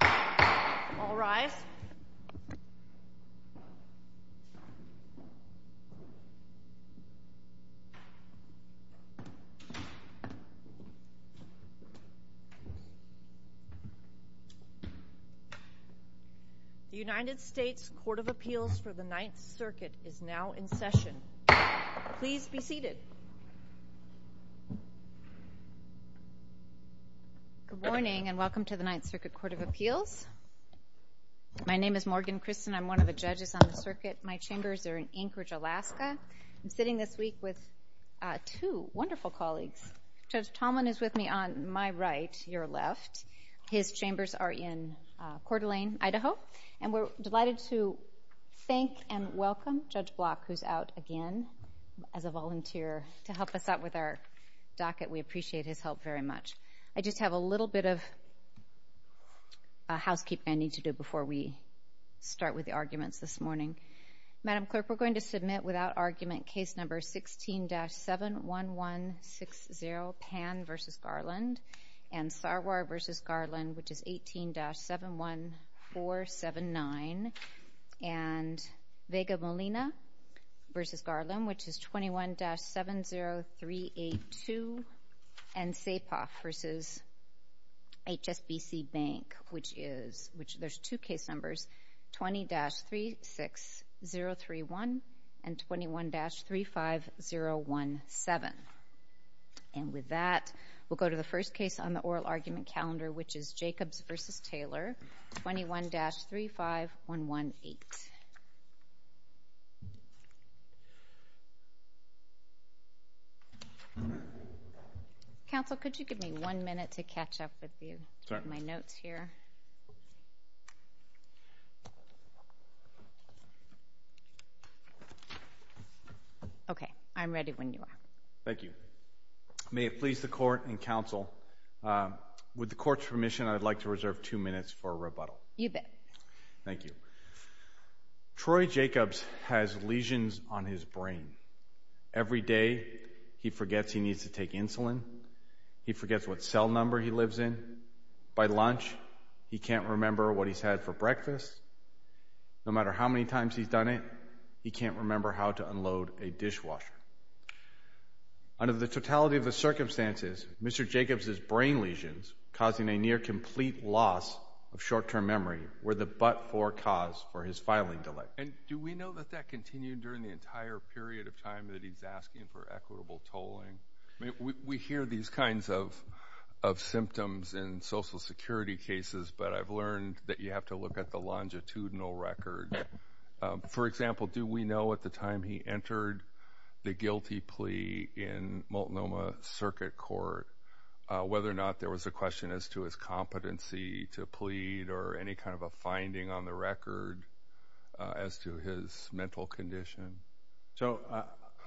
All rise. The United States Court of Appeals for the Ninth Circuit is now in session. Please be seated. Good morning and welcome to the Ninth Circuit Court of Appeals. My name is Morgan Christen. I'm one of the judges on the circuit. My chambers are in Anchorage, Alaska. I'm sitting this week with two wonderful colleagues. Judge Tallman is with me on my right, your left. His chambers are in Coeur d'Alene, Idaho. And we're delighted to thank and welcome Judge Block, who's out again as a volunteer to help us out with our docket. We appreciate his help very much. I just have a little bit of housekeeping I need to do before we start with the arguments this morning. Madam Clerk, we're going to submit without argument Case No. 16-71160, Pan v. Garland and Sarwar v. Garland, which is 18-71479 and Vega Molina v. Garland, which is 21-70382 and Sapoff v. HSBC Bank, which there's two case numbers, 20-36031 and 21-35017. And with that, we'll go to the first case on the oral argument calendar, which is Jacobs v. Taylor, 21-35118. Counsel, could you give me one minute to catch up with you? I have my notes here. Okay. I'm ready when you are. Thank you. May it please the Court and Counsel, with the Court's permission, I'd like to reserve two minutes for rebuttal. You bet. Thank you. Troy Jacobs has lesions on his brain. Every day, he forgets he needs to take insulin. He forgets what cell number he lives in. By lunch, he can't remember what he's had for breakfast. No matter how many times he's done it, he can't remember how to unload a dishwasher. Under the totality of the circumstances, Mr. Jacobs' brain lesions, causing a near-complete loss of short-term memory, were the but-for cause for his filing delay. And do we know that that continued during the entire period of time that he's asking for equitable tolling? We hear these kinds of symptoms in Social Security cases, but I've learned that you have to look at the longitudinal record. For example, do we know at the time he entered the guilty plea in Multnomah Circuit Court whether or not there was a question as to his competency to plead or any kind of a finding on the record as to his mental condition? So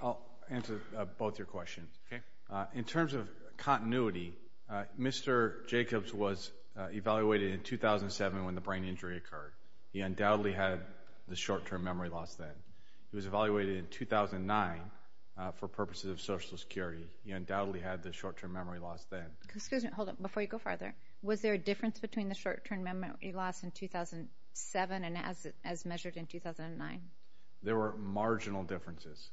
I'll answer both your questions. Okay. In terms of continuity, Mr. Jacobs was evaluated in 2007 when the brain injury occurred. He undoubtedly had the short-term memory loss then. He was evaluated in 2009 for purposes of Social Security. He undoubtedly had the short-term memory loss then. Hold on. Before you go farther, was there a difference between the short-term memory loss in 2007 and as measured in 2009? There were marginal differences.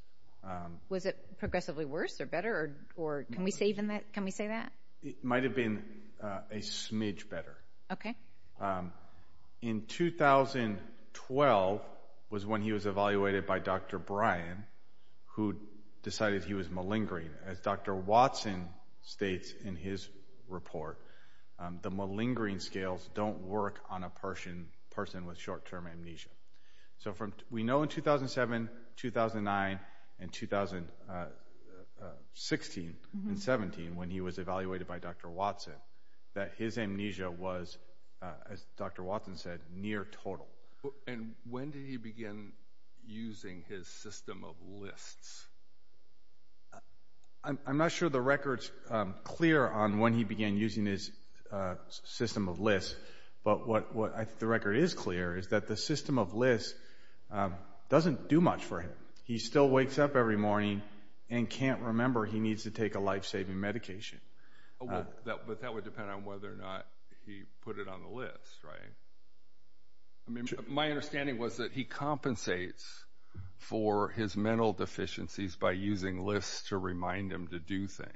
Was it progressively worse or better? Can we say that? It might have been a smidge better. Okay. In 2012 was when he was evaluated by Dr. Bryan who decided he was malingering. As Dr. Watson states in his report, the malingering scales don't work on a person with short-term amnesia. So we know in 2007, 2009, and 2016 and 2017 when he was evaluated by Dr. Watson that his amnesia was, as Dr. Watson said, near total. And when did he begin using his system of lists? I'm not sure the record's clear on when he began using his system of lists, but what the record is clear is that the system of lists doesn't do much for him. He still wakes up every morning and can't remember he needs to take a life-saving medication. But that would depend on whether or not he put it on the list, right? My understanding was that he compensates for his mental deficiencies by using lists to remind him to do things.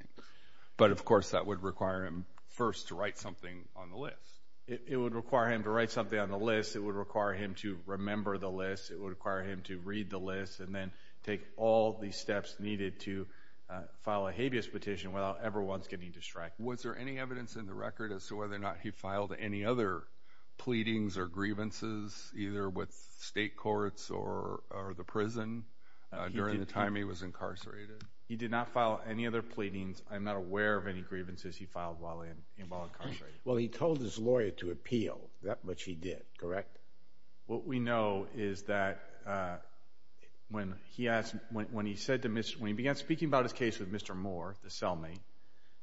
But, of course, that would require him first to write something on the list. It would require him to write something on the list. It would require him to remember the list. It would require him to read the list and then take all the steps needed to file a habeas petition without ever once getting distracted. Was there any evidence in the record as to whether or not he filed any other pleadings or grievances, either with state courts or the prison, during the time he was incarcerated? He did not file any other pleadings. I'm not aware of any grievances he filed while incarcerated. Well, he told his lawyer to appeal. That much he did, correct? Correct. What we know is that when he began speaking about his case with Mr. Moore, the cellmate,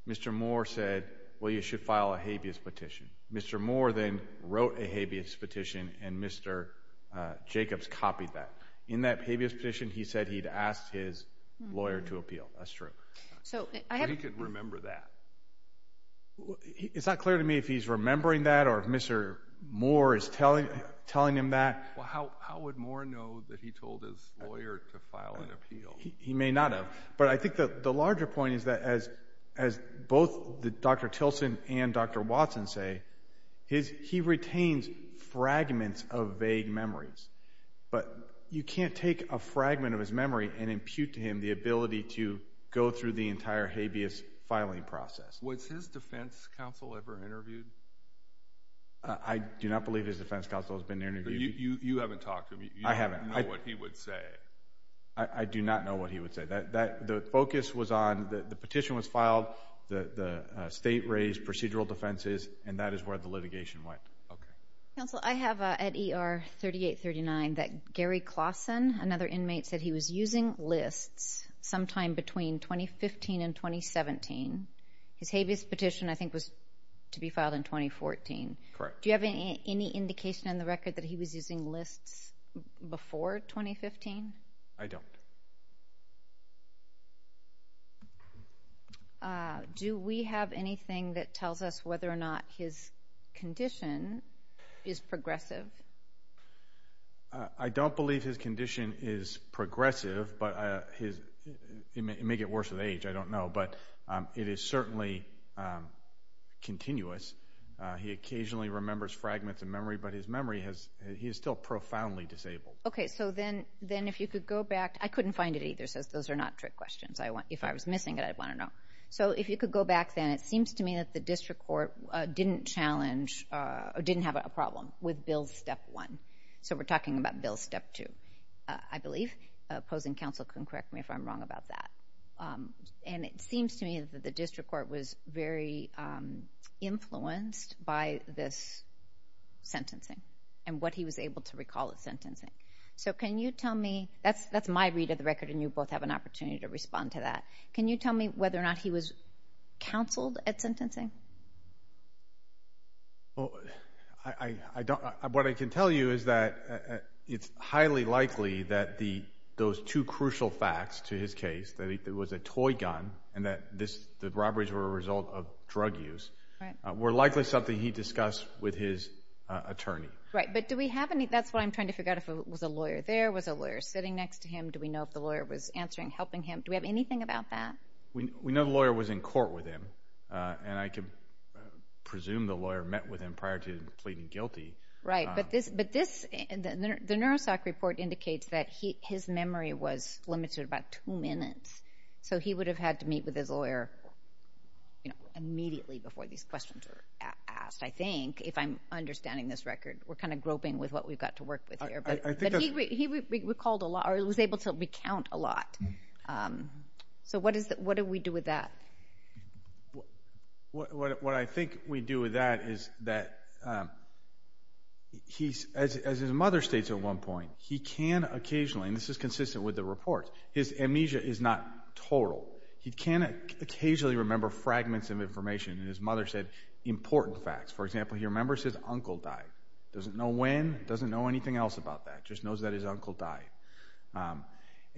Mr. Moore said, well, you should file a habeas petition. Mr. Moore then wrote a habeas petition, and Mr. Jacobs copied that. In that habeas petition, he said he'd asked his lawyer to appeal. That's true. But he could remember that. It's not clear to me if he's remembering that or if Mr. Moore is telling him that. Well, how would Moore know that he told his lawyer to file an appeal? He may not have. But I think the larger point is that as both Dr. Tilson and Dr. Watson say, he retains fragments of vague memories. But you can't take a fragment of his memory and impute to him the ability to go through the entire habeas filing process. Was his defense counsel ever interviewed? I do not believe his defense counsel has been interviewed. You haven't talked to him? I haven't. You don't know what he would say? I do not know what he would say. The focus was on the petition was filed, the state raised procedural defenses, and that is where the litigation went. Okay. Counsel, I have at ER 3839 that Gary Claussen, another inmate, said he was using lists sometime between 2015 and 2017. His habeas petition, I think, was to be filed in 2014. Correct. Do you have any indication in the record that he was using lists before 2015? I don't. Do we have anything that tells us whether or not his condition is progressive? I don't believe his condition is progressive, but it may get worse with age. I don't know. But it is certainly continuous. He occasionally remembers fragments of memory, but his memory, he is still profoundly disabled. Okay. So then if you could go back. I couldn't find it either, so those are not trick questions. If I was missing it, I'd want to know. So if you could go back then, it seems to me that the district court didn't challenge or didn't have a problem with Bill Step 1. So we're talking about Bill Step 2, I believe. Opposing counsel can correct me if I'm wrong about that. And it seems to me that the district court was very influenced by this sentencing and what he was able to recall as sentencing. So can you tell me, that's my read of the record, and you both have an opportunity to respond to that. Can you tell me whether or not he was counseled at sentencing? Well, what I can tell you is that it's highly likely that those two crucial facts to his case, that it was a toy gun and that the robberies were a result of drug use, were likely something he discussed with his attorney. Right, but do we have any? That's what I'm trying to figure out. Was a lawyer there? Was a lawyer sitting next to him? Do we know if the lawyer was answering, helping him? Do we have anything about that? We know the lawyer was in court with him, and I can presume the lawyer met with him prior to pleading guilty. Right, but the Neurosoc report indicates that his memory was limited to about two minutes. So he would have had to meet with his lawyer immediately before these questions were asked, I think, if I'm understanding this record. We're kind of groping with what we've got to work with here. He was able to recount a lot. So what do we do with that? What I think we do with that is that, as his mother states at one point, he can occasionally, and this is consistent with the report, his amnesia is not total. He can occasionally remember fragments of information, and his mother said important facts. For example, he remembers his uncle died. Doesn't know when, doesn't know anything else about that, just knows that his uncle died.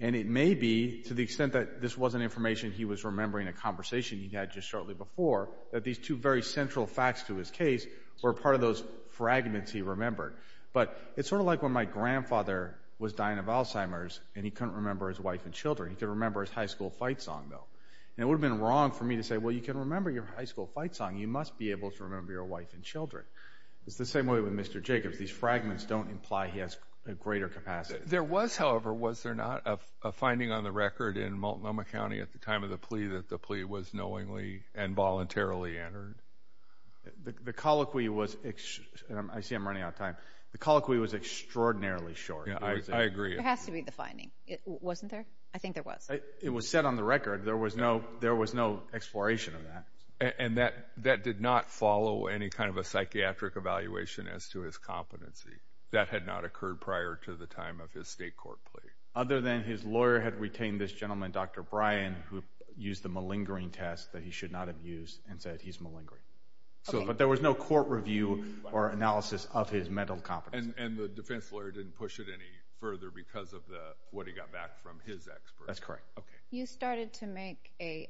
And it may be, to the extent that this wasn't information he was remembering a conversation he had just shortly before, that these two very central facts to his case were part of those fragments he remembered. But it's sort of like when my grandfather was dying of Alzheimer's, and he couldn't remember his wife and children. He could remember his high school fight song, though. And it would have been wrong for me to say, well, you can remember your high school fight song. You must be able to remember your wife and children. It's the same way with Mr. Jacobs. These fragments don't imply he has a greater capacity. There was, however, was there not a finding on the record in Multnomah County at the time of the plea that the plea was knowingly and voluntarily entered? The colloquy was, and I see I'm running out of time, the colloquy was extraordinarily short. I agree. There has to be the finding. Wasn't there? I think there was. It was set on the record. There was no exploration of that. And that did not follow any kind of a psychiatric evaluation as to his competency. That had not occurred prior to the time of his state court plea. Other than his lawyer had retained this gentleman, Dr. Bryan, who used the malingering test that he should not have used and said he's malingering. But there was no court review or analysis of his mental competency. And the defense lawyer didn't push it any further because of what he got back from his experts. That's correct. You started to make a,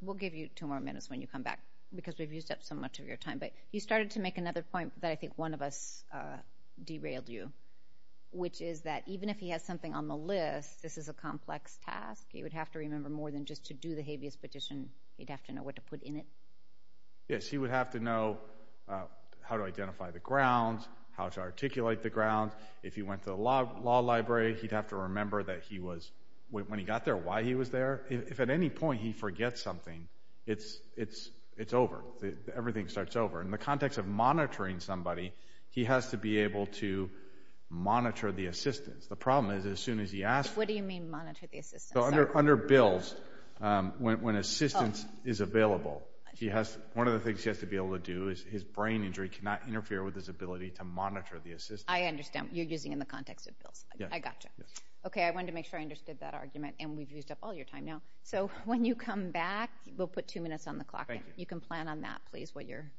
we'll give you two more minutes when you come back because we've used up so much of your time, but you started to make another point that I think one of us derailed you, which is that even if he has something on the list, this is a complex task. He would have to remember more than just to do the habeas petition. He'd have to know what to put in it. Yes. He would have to know how to identify the grounds, how to articulate the grounds. If he went to the law library, he'd have to remember that he was, when he got there, why he was there. If at any point he forgets something, it's over. Everything starts over. In the context of monitoring somebody, he has to be able to monitor the assistance. The problem is as soon as he asks for it. What do you mean monitor the assistance? Under bills, when assistance is available, one of the things he has to be able to do is his brain injury cannot interfere with his ability to monitor the assistance. I understand. You're using in the context of bills. I got you. Okay, I wanted to make sure I understood that argument, and we've used up all your time now. So when you come back, we'll put two minutes on the clock. Thank you. You can plan on that, please, while you're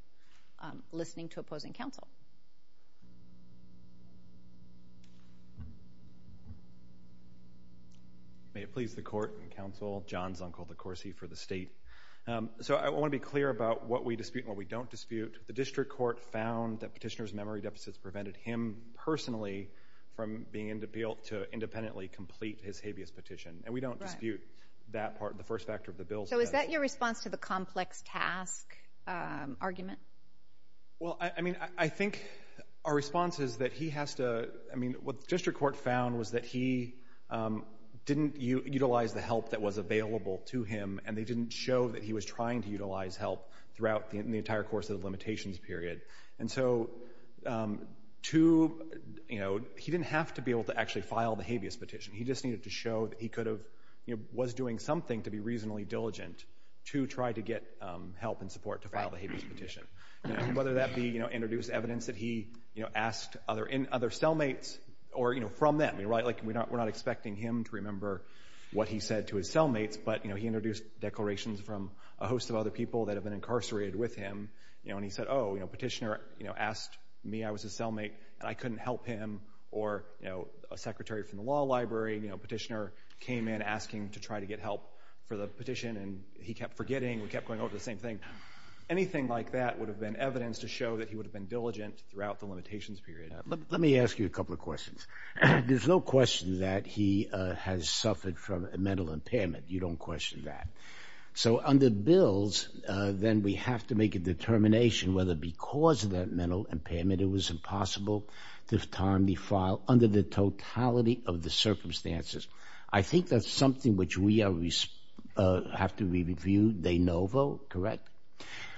listening to opposing counsel. May it please the Court and counsel, John Zunkel, the Corsi for the State. I want to be clear about what we dispute and what we don't dispute. The district court found that petitioner's memory deficits prevented him personally from being able to independently complete his habeas petition, and we don't dispute that part, the first factor of the bill. So is that your response to the complex task argument? Well, I mean, I think our response is that he has to – I mean, what the district court found was that he didn't utilize the help that was available to him, and they didn't show that he was trying to utilize help throughout the entire course of the limitations period. And so he didn't have to be able to actually file the habeas petition. He just needed to show that he could have – was doing something to be reasonably diligent to try to get help and support to file the habeas petition, whether that be introduce evidence that he asked other cellmates or from them. We're not expecting him to remember what he said to his cellmates, but he introduced declarations from a host of other people that have been incarcerated with him. And he said, oh, the petitioner asked me, I was his cellmate, and I couldn't help him, or a secretary from the law library, the petitioner came in asking to try to get help for the petition, and he kept forgetting. We kept going over the same thing. Anything like that would have been evidence to show that he would have been diligent throughout the limitations period. Let me ask you a couple of questions. There's no question that he has suffered from a mental impairment. You don't question that. So under bills, then, we have to make a determination whether because of that mental impairment, it was impossible to timely file under the totality of the circumstances. I think that's something which we have to review de novo, correct?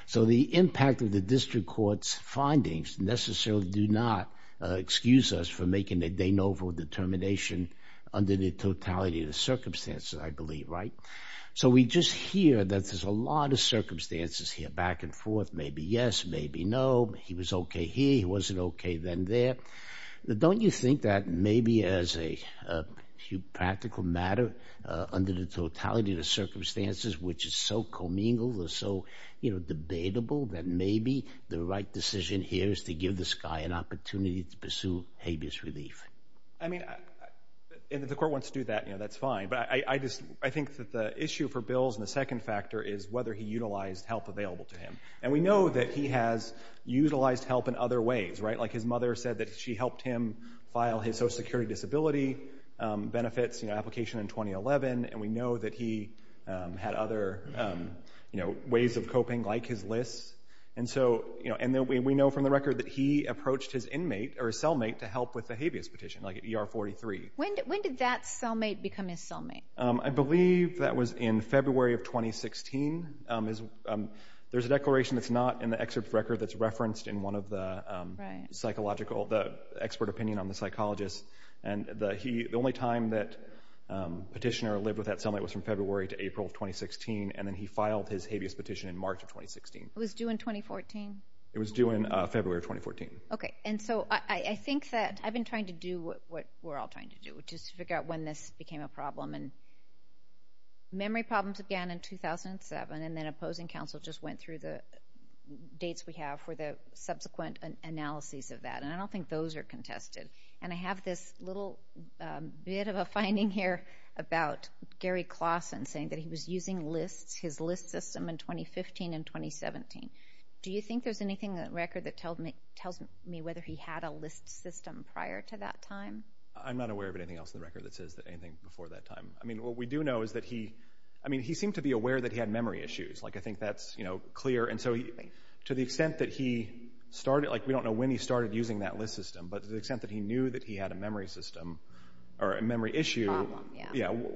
So the impact of the district court's findings necessarily do not excuse us for making a de novo determination under the totality of the circumstances, I believe, right? So we just hear that there's a lot of circumstances here, back and forth, maybe yes, maybe no. He was okay here. He wasn't okay then there. Don't you think that maybe as a practical matter, under the totality of the circumstances, which is so commingled or so debatable, that maybe the right decision here is to give this guy an opportunity to pursue habeas relief? I mean, if the court wants to do that, that's fine. But I think that the issue for bills and the second factor is whether he utilized help available to him. And we know that he has utilized help in other ways, right? Like his mother said that she helped him file his social security disability benefits application in 2011, and we know that he had other ways of coping, like his LIS. And we know from the record that he approached his cellmate to help with the habeas petition, like at ER 43. When did that cellmate become his cellmate? I believe that was in February of 2016. There's a declaration that's not in the excerpt of the record that's referenced in one of the expert opinion on the psychologist. And the only time that petitioner lived with that cellmate was from February to April of 2016, and then he filed his habeas petition in March of 2016. It was due in 2014? It was due in February of 2014. Okay, and so I think that I've been trying to do what we're all trying to do, which is figure out when this became a problem. And memory problems began in 2007, and then opposing counsel just went through the dates we have for the subsequent analyses of that. And I don't think those are contested. And I have this little bit of a finding here about Gary Claussen saying that he was using LIS, his LIS system, in 2015 and 2017. Do you think there's anything in the record that tells me whether he had a LIS system prior to that time? I'm not aware of anything else in the record that says anything before that time. I mean, what we do know is that he seemed to be aware that he had memory issues. I think that's clear. And so to the extent that he started, like we don't know when he started using that LIS system, but to the extent that he knew that he had a memory system or a memory issue,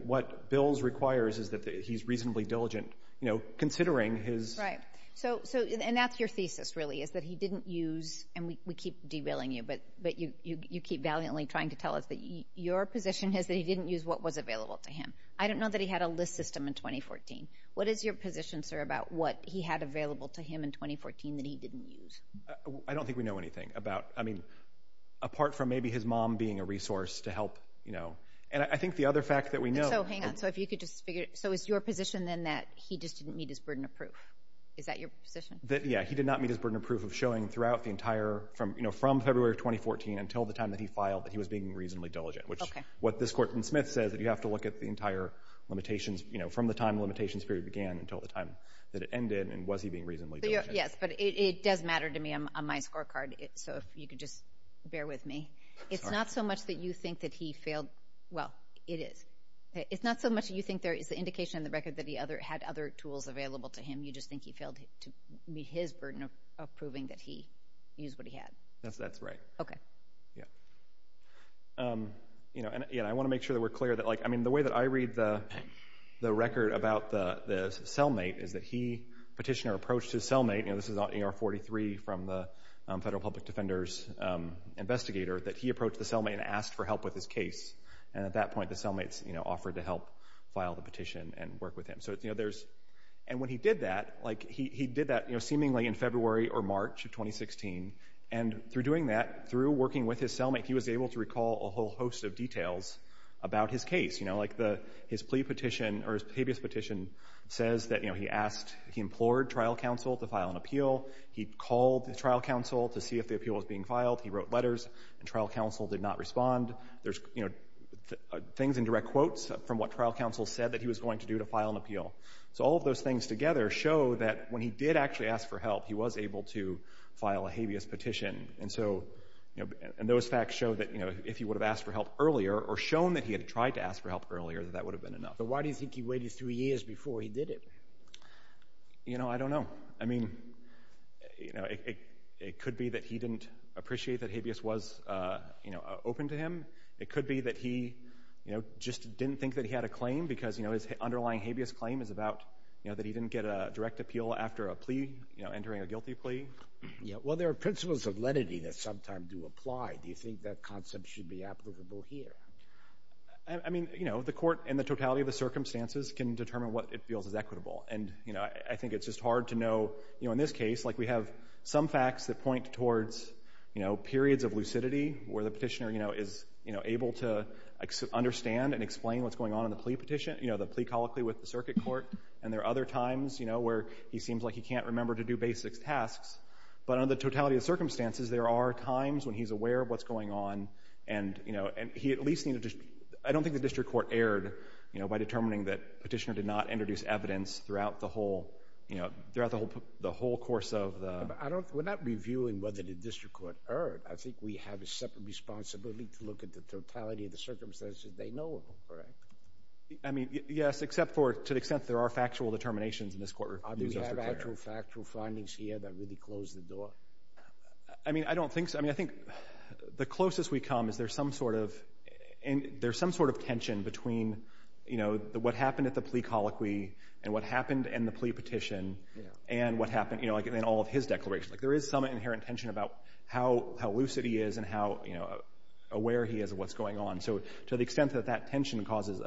what Bills requires is that he's reasonably diligent, you know, considering his... Right. And that's your thesis, really, is that he didn't use, and we keep derailing you, but you keep valiantly trying to tell us that your position is that he didn't use what was available to him. I don't know that he had a LIS system in 2014. What is your position, sir, about what he had available to him in 2014 that he didn't use? I don't think we know anything about, I mean, apart from maybe his mom being a resource to help, you know. And I think the other fact that we know... So hang on, so if you could just figure... So is your position then that he just didn't meet his burden of proof? Is that your position? Yeah, he did not meet his burden of proof of showing throughout the entire, you know, from February of 2014 until the time that he filed that he was being reasonably diligent, which is what this court in Smith says, that you have to look at the entire limitations, you know, from the time the limitations period began until the time that it ended, and was he being reasonably diligent. Yes, but it does matter to me on my scorecard, so if you could just bear with me. It's not so much that you think that he failed... Well, it is. It's not so much that you think there is the indication in the record that he had other tools available to him, you just think he failed to meet his burden of proving that he used what he had. That's right. Okay. Yeah. You know, and I want to make sure that we're clear that, like, I mean, the way that I read the record about the cellmate is that he, Petitioner, approached his cellmate, and this is on AR-43 from the Federal Public Defender's investigator, that he approached the cellmate and asked for help with his case, and at that point the cellmate offered to help file the petition and work with him. So, you know, there's... And when he did that, like, he did that seemingly in February or March of 2016, and through doing that, through working with his cellmate, he was able to recall a whole host of details about his case. You know, like his plea petition, or his previous petition, says that, you know, he asked, he implored trial counsel to file an appeal. He called the trial counsel to see if the appeal was being filed. He wrote letters, and trial counsel did not respond. There's, you know, things in direct quotes from what trial counsel said that he was going to do to file an appeal. So all of those things together show that when he did actually ask for help, he was able to file a habeas petition. And so, you know, and those facts show that, you know, if he would have asked for help earlier, or shown that he had tried to ask for help earlier, that that would have been enough. But why do you think he waited 3 years before he did it? You know, I don't know. I mean, you know, it could be that he didn't appreciate that habeas was, you know, open to him. It could be that he, you know, just didn't think that he had a claim because, you know, his underlying habeas claim is about, you know, that he didn't get a direct appeal after a plea, you know, entering a guilty plea. Yeah. Well, there are principles of lenity that sometimes do apply. Do you think that concept should be applicable here? I mean, you know, the court and the totality of the circumstances can determine what it feels is equitable. And, you know, I think it's just hard to know, you know, in this case, like we have some facts that point towards, you know, periods of lucidity where the petitioner, you know, is, you know, able to understand and explain what's going on in the plea petition, you know, the plea colloquy with the circuit court. And there are other times, you know, where he seems like he can't remember to do basic tasks. But under the totality of circumstances, there are times when he's aware of what's going on and, you know, and he at least needed to—I don't think the district court erred, you know, by determining that petitioner did not introduce evidence throughout the whole, you know, throughout the whole course of the— We're not reviewing whether the district court erred. I think we have a separate responsibility to look at the totality of the circumstances they know of, correct? I mean, yes, except for to the extent there are factual determinations in this court. Do we have actual factual findings here that really close the door? I mean, I don't think so. I mean, I think the closest we come is there's some sort of — there's some sort of tension between, you know, what happened at the plea colloquy and what happened in the plea petition and what happened, you know, like in all of his declarations. Like there is some inherent tension about how lucid he is and how, you know, aware he is of what's going on. So to the extent that that tension causes,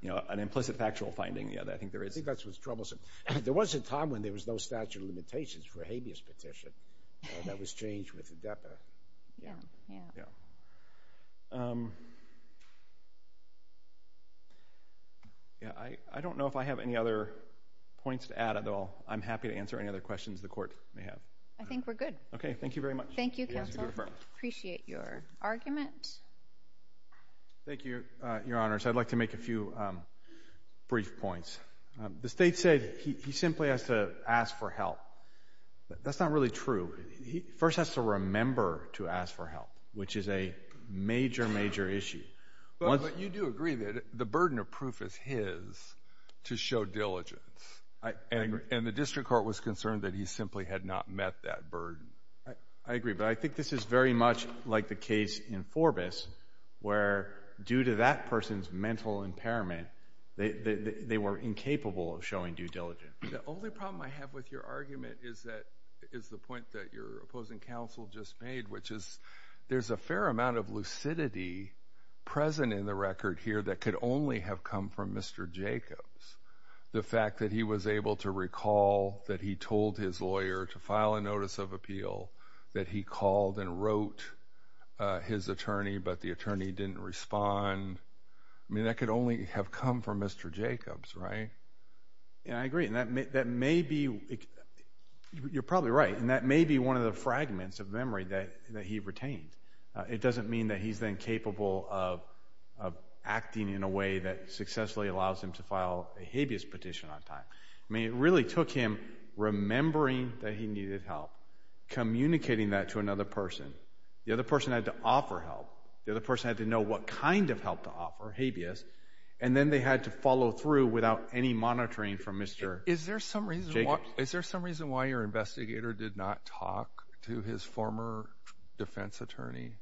you know, an implicit factual finding, yeah, I think there is. I think that's what's troublesome. There was a time when there was no statute of limitations for a habeas petition that was changed with the deputy. Yeah, yeah. Yeah. I don't know if I have any other points to add at all. I'm happy to answer any other questions the Court may have. I think we're good. Okay. Thank you very much. Thank you, Counsel. Appreciate your argument. Thank you, Your Honors. I'd like to make a few brief points. The State said he simply has to ask for help. That's not really true. He first has to remember to ask for help, which is a major, major issue. But you do agree that the burden of proof is his to show diligence. I agree. And the district court was concerned that he simply had not met that burden. I agree. But I think this is very much like the case in Forbes where due to that person's mental impairment, they were incapable of showing due diligence. The only problem I have with your argument is the point that your opposing counsel just made, which is there's a fair amount of lucidity present in the record here that could only have come from Mr. Jacobs. The fact that he was able to recall that he told his lawyer to file a notice of appeal, that he called and wrote his attorney, but the attorney didn't respond. I mean, that could only have come from Mr. Jacobs, right? I agree, and that may be one of the fragments of memory that he retained. It doesn't mean that he's incapable of acting in a way that successfully allows him to file a habeas petition on time. I mean, it really took him remembering that he needed help, communicating that to another person. The other person had to offer help. The other person had to know what kind of help to offer, habeas, and then they had to follow through without any monitoring from Mr. Jacobs. Is there some reason why your investigator did not talk to his former defense attorney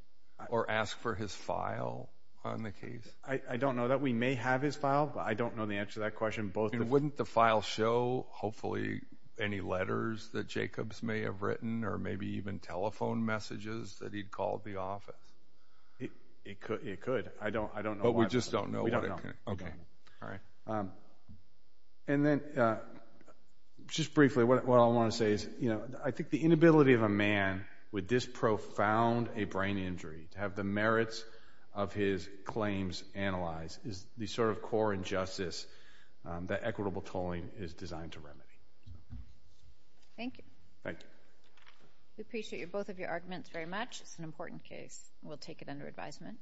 or ask for his file on the case? I don't know that. We may have his file, but I don't know the answer to that question. Wouldn't the file show, hopefully, any letters that Jacobs may have written or maybe even telephone messages that he'd called the office? It could. It could. I don't know why. But we just don't know? We don't know. Okay. All right. And then, just briefly, what I want to say is, you know, I think the inability of a man with this profound a brain injury to have the merits of his claims analyzed is the sort of core injustice that equitable tolling is designed to remedy. Thank you. Thank you. We appreciate both of your arguments very much. It's an important case. We'll take it under advisement.